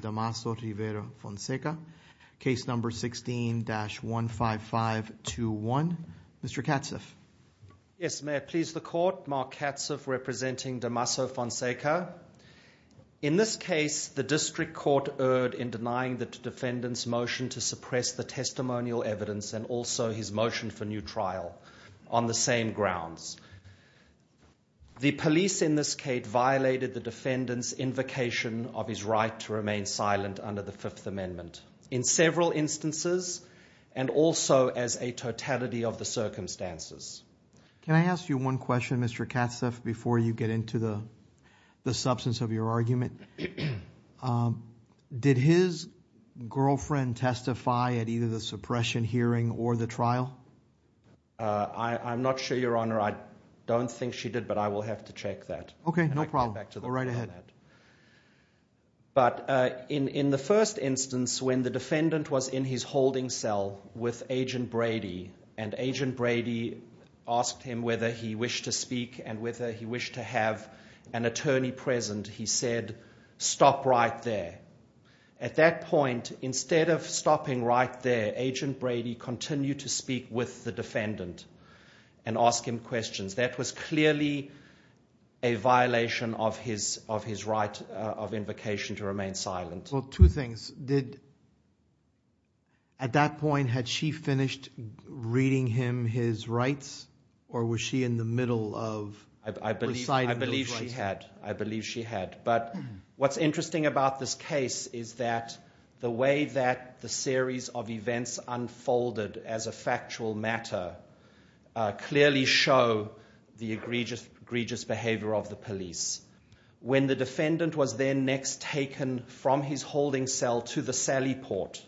Damaso Rivera Fonseca. Case number 16-15521. Mr. Katzeff. Yes, may I please the court. Mark Katzeff representing Damaso Fonseca. In this case the district court erred in denying the defendant's motion to suppress the testimonial evidence and also his motion for new trial on the same grounds. The police in this case violated the defendant's invocation of his right to remain silent under the Fifth Amendment in several instances and also as a totality of the circumstances. Can I ask you one question Mr. Katzeff before you get into the the substance of your argument. Did his girlfriend testify at either the suppression hearing or the trial? I'm not sure your honor I don't think she did but I will have to check that. Okay, no problem. Go right ahead. But in the first instance when the defendant was in his holding cell with agent Brady and agent Brady asked him whether he wished to speak and whether he wished to have an attorney present he said stop right there. At that point instead of stopping right there agent Brady continued to speak with the defendant and ask him questions. That was clearly a violation of his right of invocation to remain silent. Well two things. At that point had she finished reading him his rights or was she in the middle of reciting those rights? I believe she had but what's interesting about this case is that the way that the series of events unfolded as a factual matter clearly show the egregious behavior of the police. When the defendant was then next taken from his holding cell to the Sally Port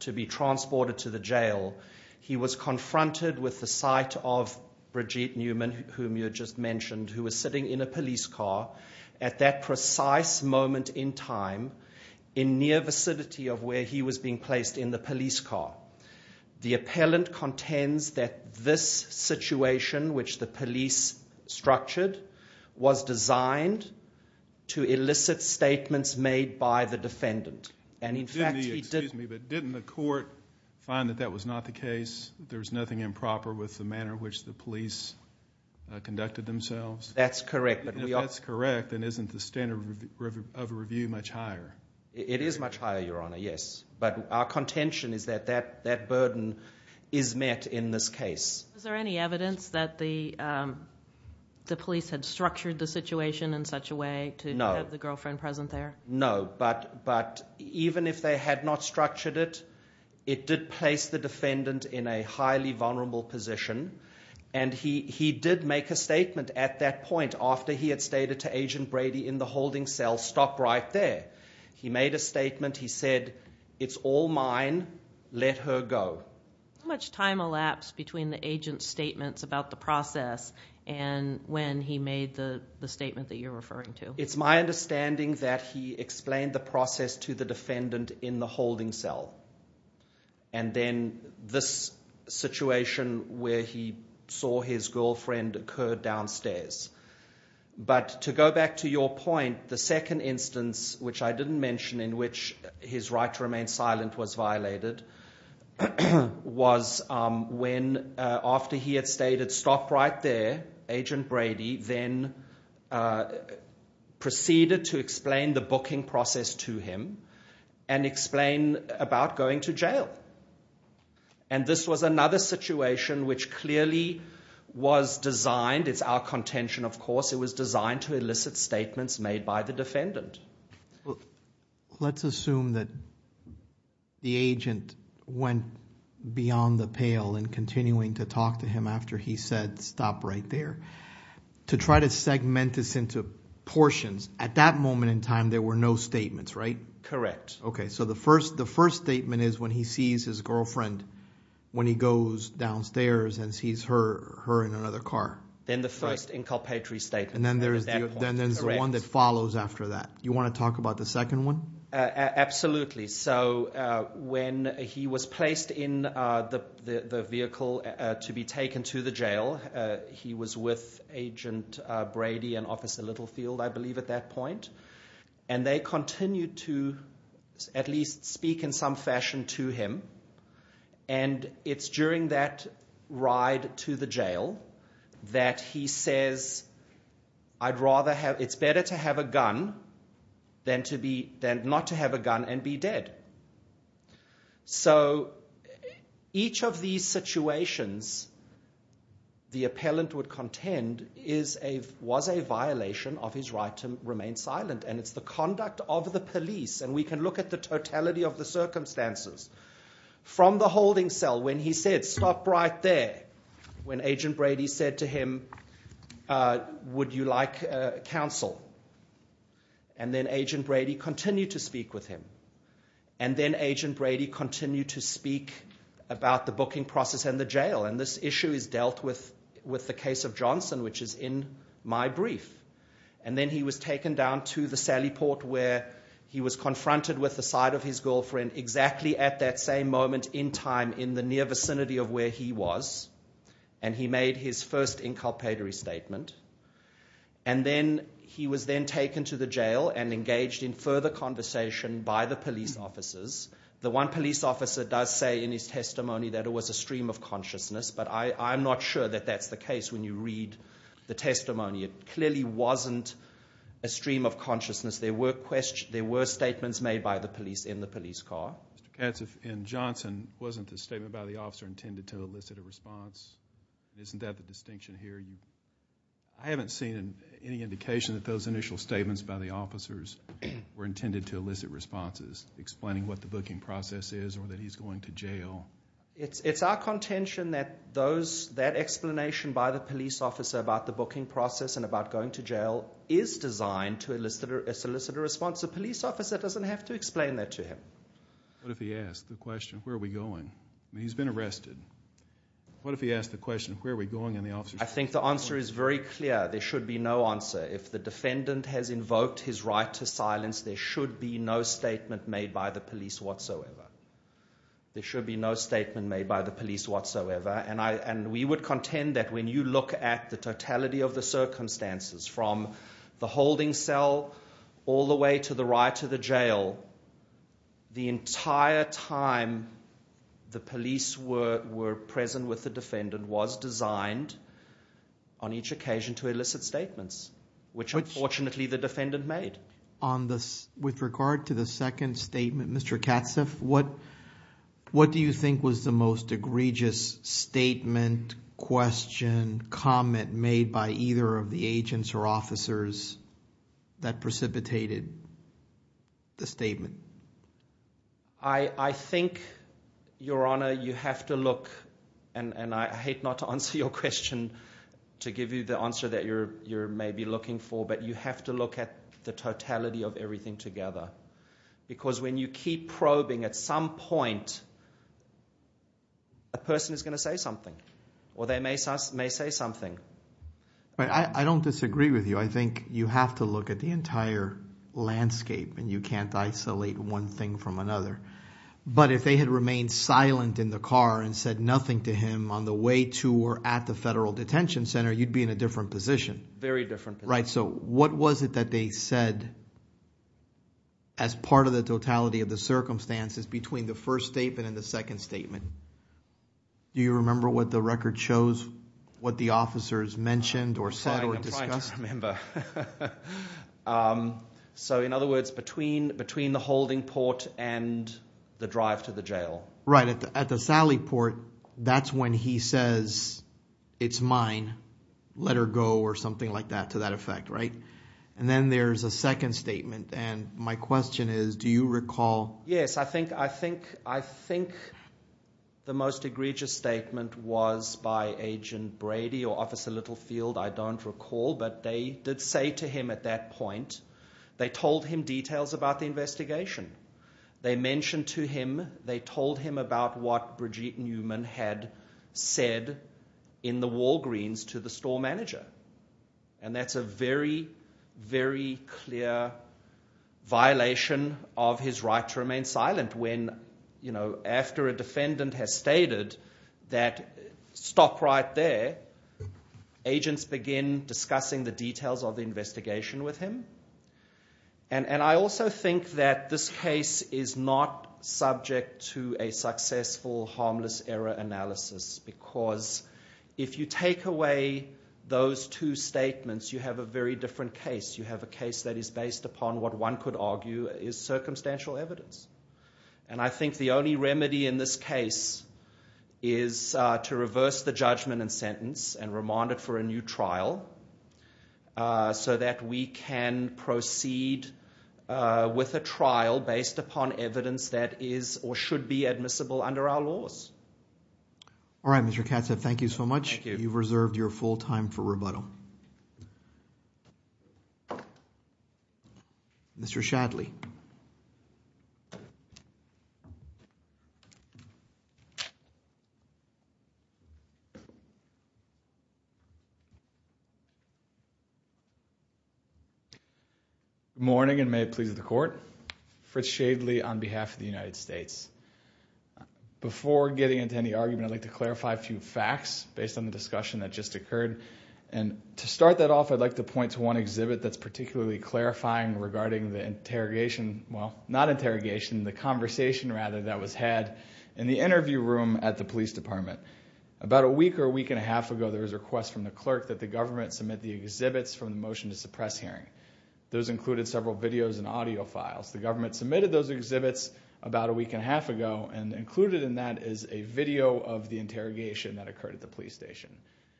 to be transported to the jail he was confronted with the sight of Brigitte Newman whom you just mentioned who was sitting in a police car at that precise moment in time in near vicinity of where he was being placed in the police car. The appellant contends that this structured was designed to elicit statements made by the defendant and in fact he did. Didn't the court find that that was not the case? There's nothing improper with the manner which the police conducted themselves? That's correct. That's correct and isn't the standard of review much higher? It is much higher your honor yes but our contention is that that burden is met in this case. Is there any evidence that the police had structured the situation in such a way to have the girlfriend present there? No but even if they had not structured it it did place the defendant in a highly vulnerable position and he did make a statement at that point after he had stated to agent Brady in the holding cell stop right there. He made a statement he said it's all mine let her go. How much time elapsed between the agent's statements about the process and when he made the statement that you're referring to? It's my understanding that he explained the process to the defendant in the holding cell and then this situation where he saw his girlfriend occurred downstairs but to go back to your point the second instance which I didn't mention in which his right to was when after he had stated stop right there agent Brady then proceeded to explain the booking process to him and explain about going to jail and this was another situation which clearly was designed it's our contention of course it was designed to elicit statements made by the defendant. Let's assume that the agent went beyond the pale and continuing to talk to him after he said stop right there to try to segment this into portions at that moment in time there were no statements right? Correct. Okay so the first the first statement is when he sees his girlfriend when he goes downstairs and sees her in another car. Then the first inculpatory statement. And then there's the one that follows after that. You want to talk about the second one? Absolutely so when he was placed in the vehicle to be taken to the jail he was with agent Brady and officer Littlefield I believe at that point and they continued to at least speak in some fashion to him and it's during that ride to the jail that he says I'd rather have it's better to have a gun than to be then not to have a gun and be dead. So each of these situations the appellant would contend is a was a violation of his right to remain silent and it's the conduct of the police and we can look at the totality of the circumstances. From the holding cell when he said stop right there when agent Brady said to him would you like counsel and then agent Brady continued to speak with him and then agent Brady continued to speak about the booking process and the jail and this issue is dealt with with the case of Johnson which is in my brief and then he was taken down to the Sally Port where he was confronted with the side of his girlfriend exactly at that same moment in time in the near vicinity of where he was and he made his first inculpatory statement and then he was then taken to the jail and engaged in further conversation by the police officers the one police officer does say in his testimony that it was a stream of consciousness but I I'm not sure that that's the case when you read the testimony it clearly wasn't a stream of consciousness there were statements made by the police in the Johnson wasn't the statement by the officer intended to elicit a response isn't that the distinction here you I haven't seen any indication that those initial statements by the officers were intended to elicit responses explaining what the booking process is or that he's going to jail it's it's our contention that those that explanation by the police officer about the booking process and about going to jail is designed to elicit a solicitor response a police doesn't have to explain that to him what if he asked the question where are we going he's been arrested what if he asked the question where are we going in the officer I think the answer is very clear there should be no answer if the defendant has invoked his right to silence there should be no statement made by the police whatsoever there should be no statement made by the police whatsoever and I and we would contend that when you look at the totality of the circumstances from the holding cell all the way to the right to the jail the entire time the police were were present with the defendant was designed on each occasion to elicit statements which unfortunately the defendant made on this with regard to the second statement mr. Katz if what what do you think was the most egregious statement question comment made by the statement I I think your honor you have to look and and I hate not to answer your question to give you the answer that you're you're maybe looking for but you have to look at the totality of everything together because when you keep probing at some point a person is going to say something or they may say may say something but I don't disagree with you I think you have to look at the you can't isolate one thing from another but if they had remained silent in the car and said nothing to him on the way to or at the federal detention center you'd be in a different position very different right so what was it that they said as part of the totality of the circumstances between the first statement and the second statement do you remember what the record shows what the officers mentioned or so in other words between between the holding port and the drive to the jail right at the Sally port that's when he says it's mine let her go or something like that to that effect right and then there's a second statement and my question is do you recall yes I think I think I think the most egregious statement was by agent Brady or officer Littlefield I don't recall but they did say to him at that point they told him details about the investigation they mentioned to him they told him about what Brigitte Newman had said in the Walgreens to the store manager and that's a very very clear violation of his right to remain silent when you know after a defendant has stated that stop right there agents begin discussing the details of the investigation with him and and I also think that this case is not subject to a successful harmless error analysis because if you take away those two case you have a case that is based upon what one could argue is circumstantial evidence and I think the only remedy in this case is to reverse the judgment and sentence and remanded for a new trial so that we can proceed with a trial based upon evidence that is or should be admissible under our laws all right mr. mr. Shadley morning and may it please the court Fritz Shadley on behalf of the United States before getting into any argument I'd like to clarify a few facts based on the discussion that just occurred and to start that off I'd like to point to one exhibit that's particularly clarifying regarding the interrogation well not interrogation the conversation rather that was had in the interview room at the Police Department about a week or a week and a half ago there was a request from the clerk that the government submit the exhibits from the motion to suppress hearing those included several videos and audio files the government submitted those exhibits about a week and a half ago and included in that is a video of the interrogation that occurred at the police station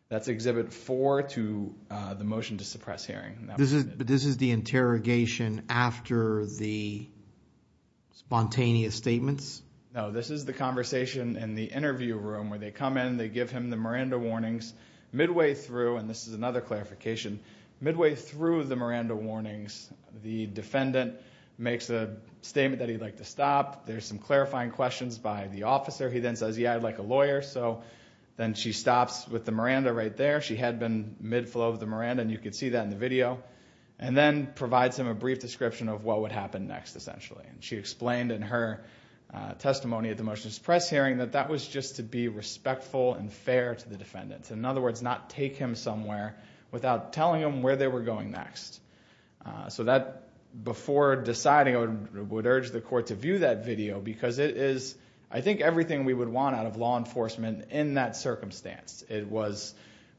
that's exhibit 4 to the motion to suppress hearing this is but this is the interrogation after the spontaneous statements no this is the conversation in the interview room where they come in they give him the Miranda warnings midway through and this is another clarification midway through the Miranda warnings the defendant makes a statement that he'd like to stop there's some clarifying questions by the officer he then says yeah I'd like a lawyer so then she stops with the mid-flow of the Miranda and you can see that in the video and then provides him a brief description of what would happen next essentially and she explained in her testimony at the motion to suppress hearing that that was just to be respectful and fair to the defendants in other words not take him somewhere without telling him where they were going next so that before deciding I would urge the court to view that video because it is I think everything we would want out of law enforcement in that circumstance it was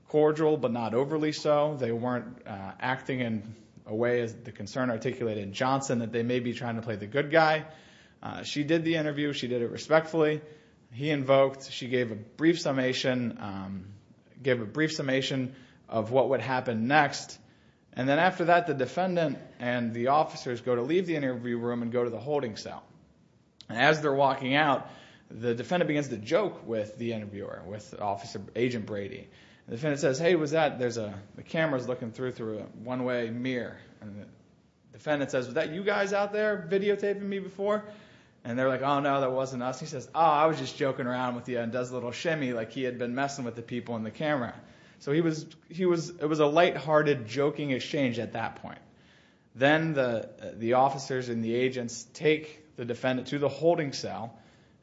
cordial but not overly so they weren't acting in a way as the concern articulated in Johnson that they may be trying to play the good guy she did the interview she did it respectfully he invoked she gave a brief summation gave a brief summation of what would happen next and then after that the defendant and the officers go to leave the interview room and go to the holding cell as they're walking out the defendant begins to joke with the interviewer with officer agent Brady the defendant says hey was that there's a the cameras looking through through a one-way mirror and the defendant says that you guys out there videotaping me before and they're like oh no that wasn't us he says I was just joking around with you and does a little shimmy like he had been messing with the people in the camera so he was he was it was a light-hearted joking exchange at that point then the the officers and the agents take the defendant to the holding cell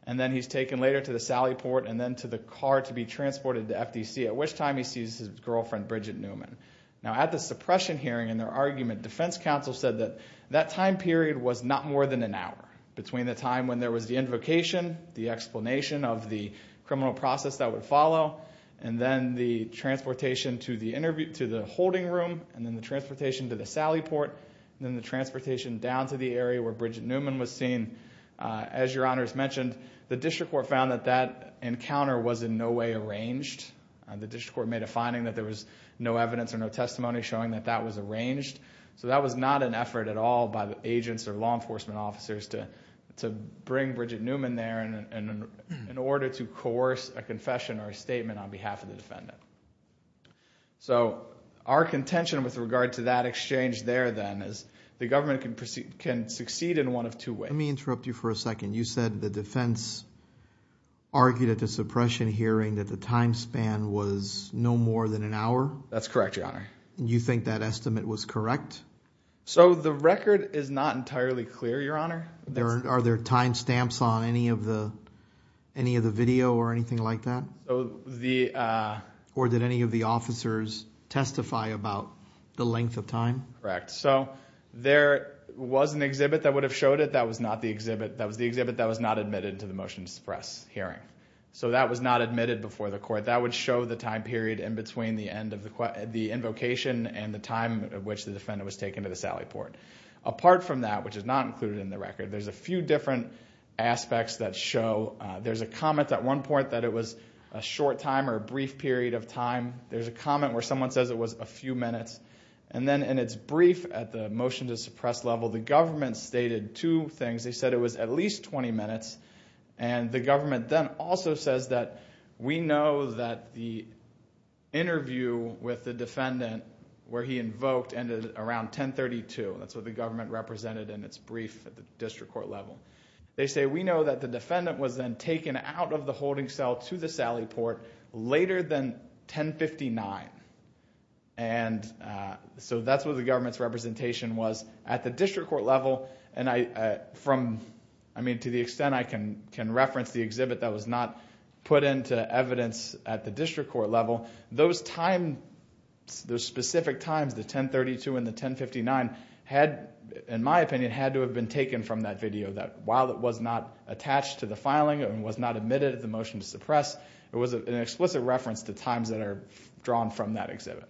and then he's taken later to the Sally port and then to the car to be transported to FTC at which time he sees his girlfriend Bridget Newman now at the suppression hearing and their argument defense counsel said that that time period was not more than an hour between the time when there was the invocation the explanation of the criminal process that would follow and then the transportation to the interview to the holding room and then the transportation to the Sally port then the transportation down to the area where Bridget Newman was seen as your honors mentioned the district court found that that encounter was in no way arranged and the district court made a finding that there was no evidence or no testimony showing that that was arranged so that was not an effort at all by the agents or law enforcement officers to to bring Bridget Newman there and in order to coerce a confession or a statement on behalf of the defendant so our contention with regard to that exchange there then is the government can proceed can succeed in one of two interrupt you for a second you said the defense argued at the suppression hearing that the time span was no more than an hour that's correct your honor you think that estimate was correct so the record is not entirely clear your honor there are there time stamps on any of the any of the video or anything like that so the or did any of the officers testify about the length of time correct so there was an exhibit that would have showed it that was not the exhibit that was the exhibit that was not admitted to the motion to suppress hearing so that was not admitted before the court that would show the time period in between the end of the the invocation and the time at which the defendant was taken to the Sally port apart from that which is not included in the record there's a few different aspects that show there's a comment at one point that it was a short time or a brief period of time there's a comment where someone says it was a few minutes and then in its brief at the motion to suppress level the government stated two things they said it was at least 20 minutes and the government then also says that we know that the interview with the defendant where he invoked ended around 1032 that's what the government represented in its brief district court level they say we know that the defendant was then taken out of 1059 and so that's what the government's representation was at the district court level and I from I mean to the extent I can can reference the exhibit that was not put into evidence at the district court level those time those specific times the 1032 and the 1059 had in my opinion had to have been taken from that video that while it was not attached to the filing and was not admitted at the motion to suppress it was an explicit reference to times that are drawn from that exhibit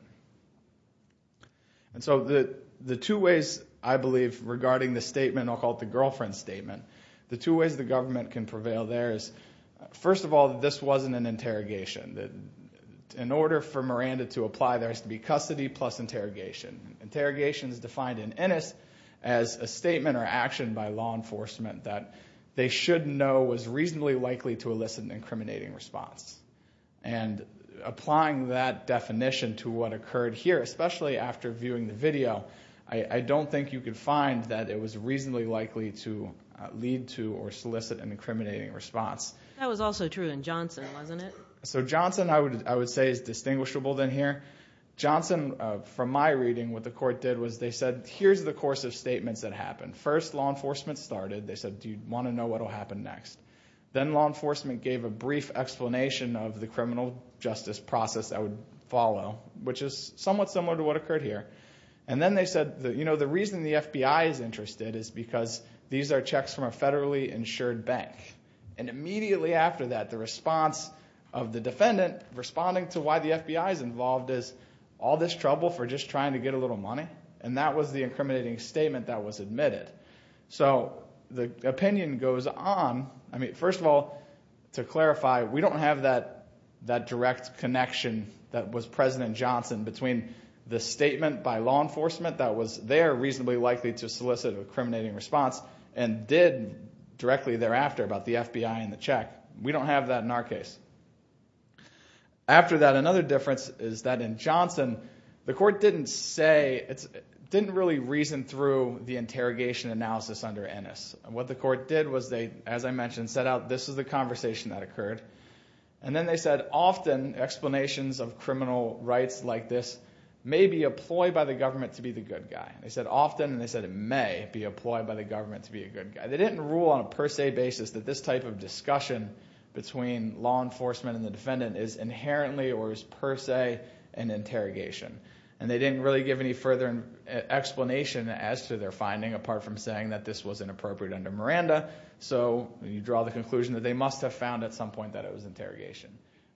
and so the the two ways I believe regarding the statement I'll call it the girlfriend statement the two ways the government can prevail there is first of all this wasn't an interrogation that in order for Miranda to apply there has to be custody plus interrogation interrogation is defined in Ennis as a statement or action by law enforcement that they should know was reasonably likely to elicit an incriminating response and applying that definition to what occurred here especially after viewing the video I don't think you could find that it was reasonably likely to lead to or solicit an incriminating response that was also true in Johnson wasn't it so Johnson I would I would say is distinguishable than here Johnson from my reading what the court did was they said here's the course of statements that happened first law enforcement started they said do you want to know what will happen next then law enforcement gave a brief explanation of the criminal justice process I would follow which is somewhat similar to what occurred here and then they said that you know the reason the FBI is interested is because these are checks from a federally insured bank and immediately after that the response of the defendant responding to why the FBI is involved is all this trouble for just trying to get a little money and that was the incriminating statement that was admitted so the opinion goes on I mean first of all to clarify we don't have that that direct connection that was President Johnson between the statement by law enforcement that was there reasonably likely to solicit an incriminating response and did directly thereafter about the FBI and the check we don't have that in our case after that another difference is that in Johnson the court didn't say it didn't really reason through the interrogation analysis under Ennis what the court did was they as I mentioned set out this is the conversation that occurred and then they said often explanations of criminal rights like this may be employed by the government to be the good guy they said often and they said it may be employed by the government to be a good guy they didn't rule on a per se basis that this type of discussion between law enforcement and the defendant is inherently or is per se an interrogation and they didn't really give any further explanation as to their finding apart from saying that this was inappropriate under Miranda so you draw the conclusion that they must have found at some point that it was interrogation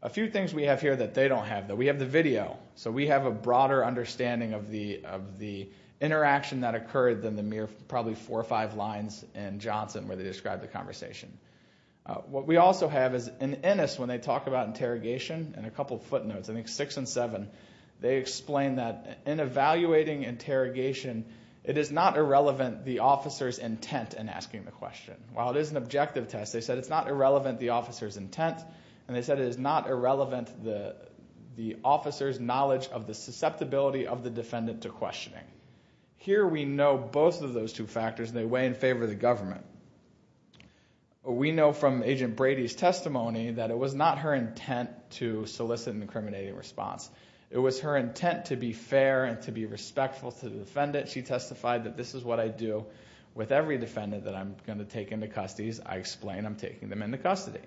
a few things we have here that they don't have that we have the video so we have a broader understanding of the of the interaction that occurred than the mere probably four or five lines and Johnson where they described the conversation what we also have is in Ennis when they talk about interrogation and a couple footnotes I think six and seven they explained that in evaluating interrogation it is not irrelevant the the question while it is an objective test they said it's not irrelevant the officers intent and they said it is not irrelevant the the officers knowledge of the susceptibility of the defendant to questioning here we know both of those two factors they weigh in favor of the government we know from agent Brady's testimony that it was not her intent to solicit an incriminating response it was her intent to be fair and to be respectful to the defendant she going to take into custody's I explain I'm taking them into custody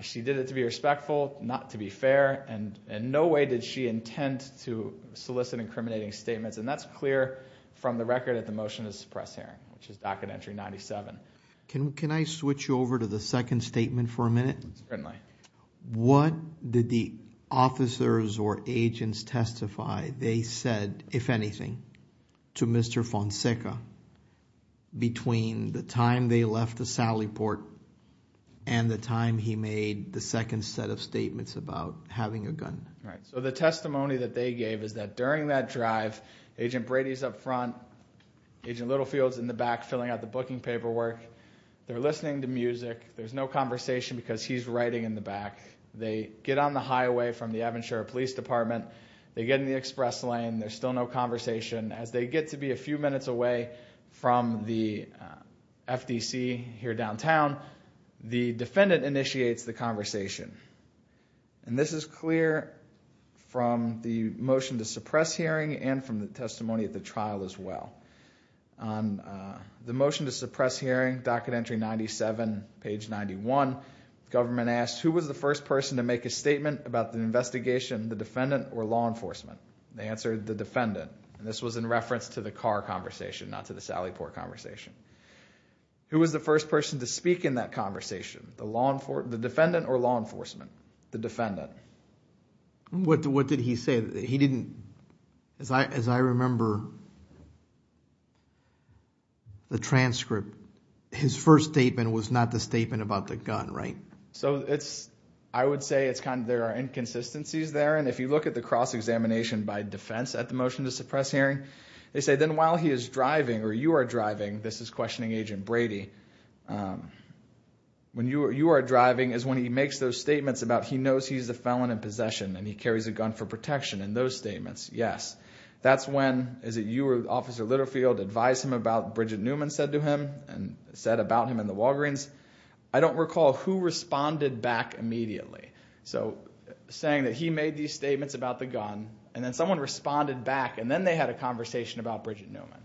she did it to be respectful not to be fair and in no way did she intend to solicit incriminating statements and that's clear from the record at the motion is press here which is docket entry 97 can can I switch you over to the second statement for a minute what did the officers or agents testify they said if anything to mr. Fonseca between the time they left the Sally port and the time he made the second set of statements about having a gun right so the testimony that they gave is that during that drive agent Brady's up front agent Littlefield's in the back filling out the booking paperwork they're listening to music there's no conversation because he's writing in the back they get on the highway from the Evanshire Police Department they get in express lane there's still no conversation as they get to be a few minutes away from the FTC here downtown the defendant initiates the conversation and this is clear from the motion to suppress hearing and from the testimony at the trial as well on the motion to suppress hearing docket entry 97 page 91 government asked who was the first person to make a statement about the they answered the defendant and this was in reference to the car conversation not to the Sally port conversation who was the first person to speak in that conversation the law and for the defendant or law enforcement the defendant what did what did he say that he didn't as I as I remember the transcript his first statement was not the statement about the gun right so it's I would say it's kind of there are inconsistencies there and if you look at the cross-examination by defense at the motion to suppress hearing they say then while he is driving or you are driving this is questioning agent Brady when you are you are driving is when he makes those statements about he knows he's a felon in possession and he carries a gun for protection in those statements yes that's when is it you were officer Litterfield advised him about Bridget Newman said to him and said about him in the Walgreens I don't recall who made these statements about the gun and then someone responded back and then they had a conversation about Bridget Newman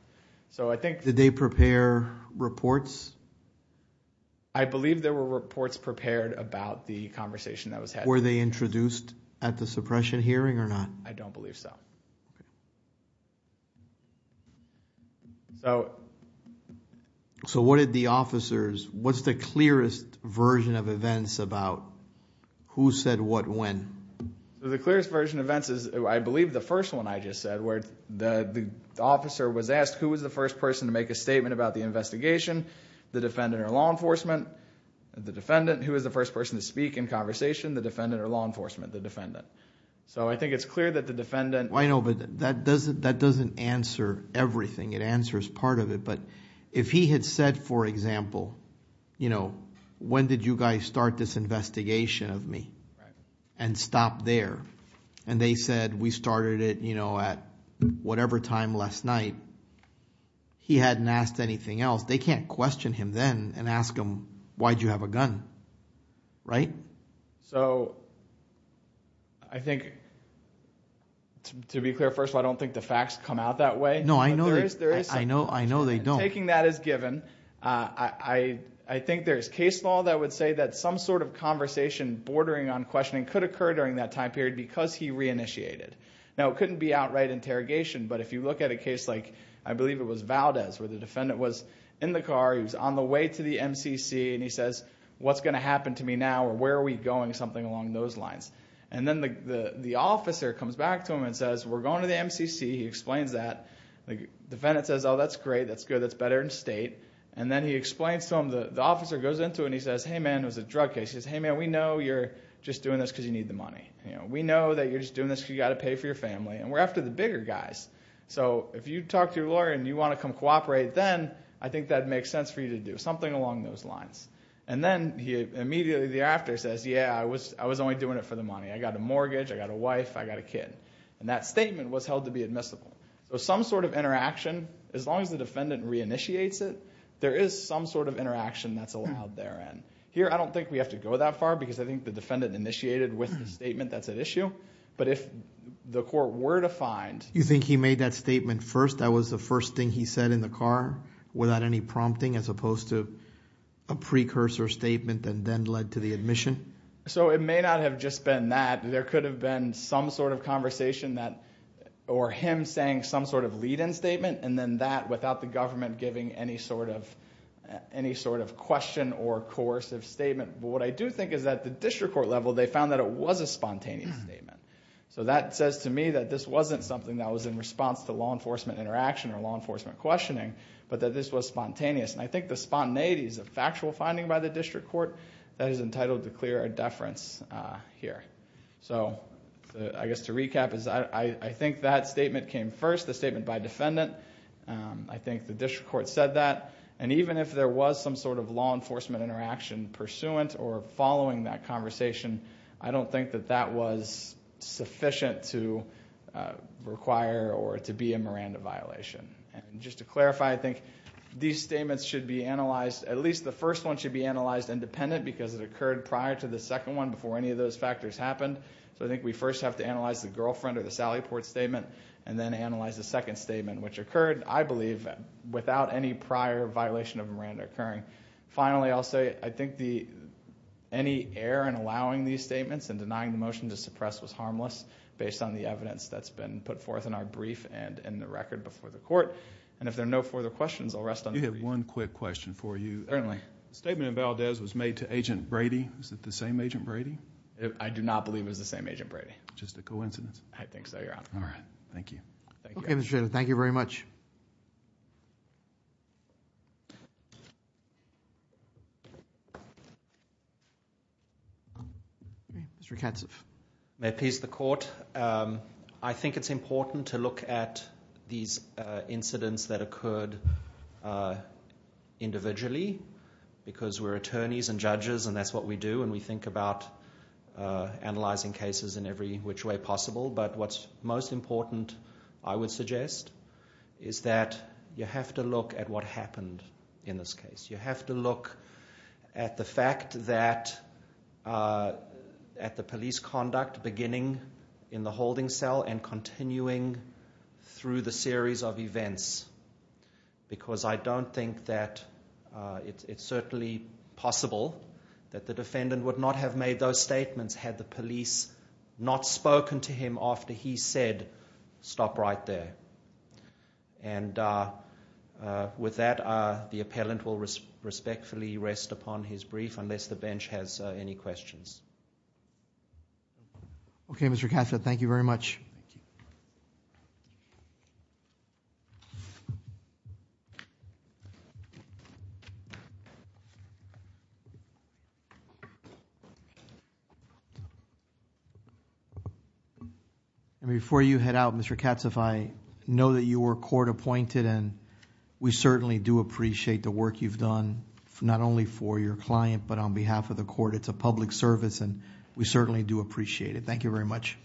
so I think did they prepare reports I believe there were reports prepared about the conversation that was where they introduced at the suppression hearing or not I don't believe so so so what did the officers what's the clearest version of events about who the clearest version events is I believe the first one I just said where the the officer was asked who was the first person to make a statement about the investigation the defendant or law enforcement the defendant who is the first person to speak in conversation the defendant or law enforcement the defendant so I think it's clear that the defendant I know but that doesn't that doesn't answer everything it answers part of it but if he had said for example you know when did you guys start this investigation of me and stop there and they said we started it you know at whatever time last night he hadn't asked anything else they can't question him then and ask him why'd you have a gun right so I think to be clear first of all I don't think the facts come out that way no I know there is there is I know I know they don't thinking that is given I I think there's case law that would say that some sort of conversation bordering on questioning could occur during that time period because he reinitiated now couldn't be outright interrogation but if you look at a case like I believe it was Valdez where the defendant was in the car he was on the way to the MCC and he says what's going to happen to me now or where are we going something along those lines and then the the officer comes back to him and says we're going to the MCC he explains that the defendant says oh that's great that's good that's better in state and then he explains to him the the officer goes into and he says hey man was a drug case he's hey man we know you're just doing this because you need the money you know we know that you're just doing this you got to pay for your family and we're after the bigger guys so if you talk to your lawyer and you want to come cooperate then I think that makes sense for you to do something along those lines and then he immediately thereafter says yeah I was I was only doing it for the money I got a mortgage I got a wife I got a kid and that statement was held to be admissible so some sort of interaction as long as the defendant reinitiates it there is some sort of interaction that's allowed there and here I don't think we have to go that far because I think the defendant initiated with the statement that's at issue but if the court were to find you think he made that statement first that was the first thing he said in the car without any prompting as opposed to a precursor statement and then led to the admission so it may not have just been that there could have been some sort of conversation that or him saying some sort of lead-in statement and then that without the government giving any sort of any sort of question or course of statement but I do think is that the district court level they found that it was a spontaneous statement so that says to me that this wasn't something that was in response to law enforcement interaction or law enforcement questioning but that this was spontaneous and I think the spontaneity is a factual finding by the district court that is entitled to clear a deference here so I guess to recap is I think that statement came first the statement by defendant I think the district court said that and even if there was some sort of law enforcement interaction pursuant or following that conversation I don't think that that was sufficient to require or to be a Miranda violation and just to clarify I think these statements should be analyzed at least the first one should be analyzed independent because it occurred prior to the second one before any of those factors happened so I think we first have to analyze the girlfriend or the Sally port statement and then analyze the second statement which occurred I prior violation of Miranda occurring finally I'll say I think the any air and allowing these statements and denying the motion to suppress was harmless based on the evidence that's been put forth in our brief and in the record before the court and if there are no further questions I'll rest on you have one quick question for you certainly statement of Valdez was made to agent Brady is that the same agent Brady I do not believe is the same agent Brady just a coincidence I think so you're on all right thank you thank you very much the court I think it's important to look at these incidents that occurred individually because we're attorneys and judges and that's what we do and we think about analyzing cases in every which way possible but what's most important I would suggest is that you have to look at what happened in this case you have to look at the fact that at the police conduct beginning in the holding cell and continuing through the series of events because I don't think that it's certainly possible that the defendant would not have made those stop right there and with that the appellant will respectfully rest upon his brief unless the bench has any questions ok Mr. Kassid thank you very much before you head out Mr. Katz if I know that you were court appointed and we certainly do appreciate the work you've done not only for your client but on behalf of the court it's a public service and we certainly do appreciate it thank you very much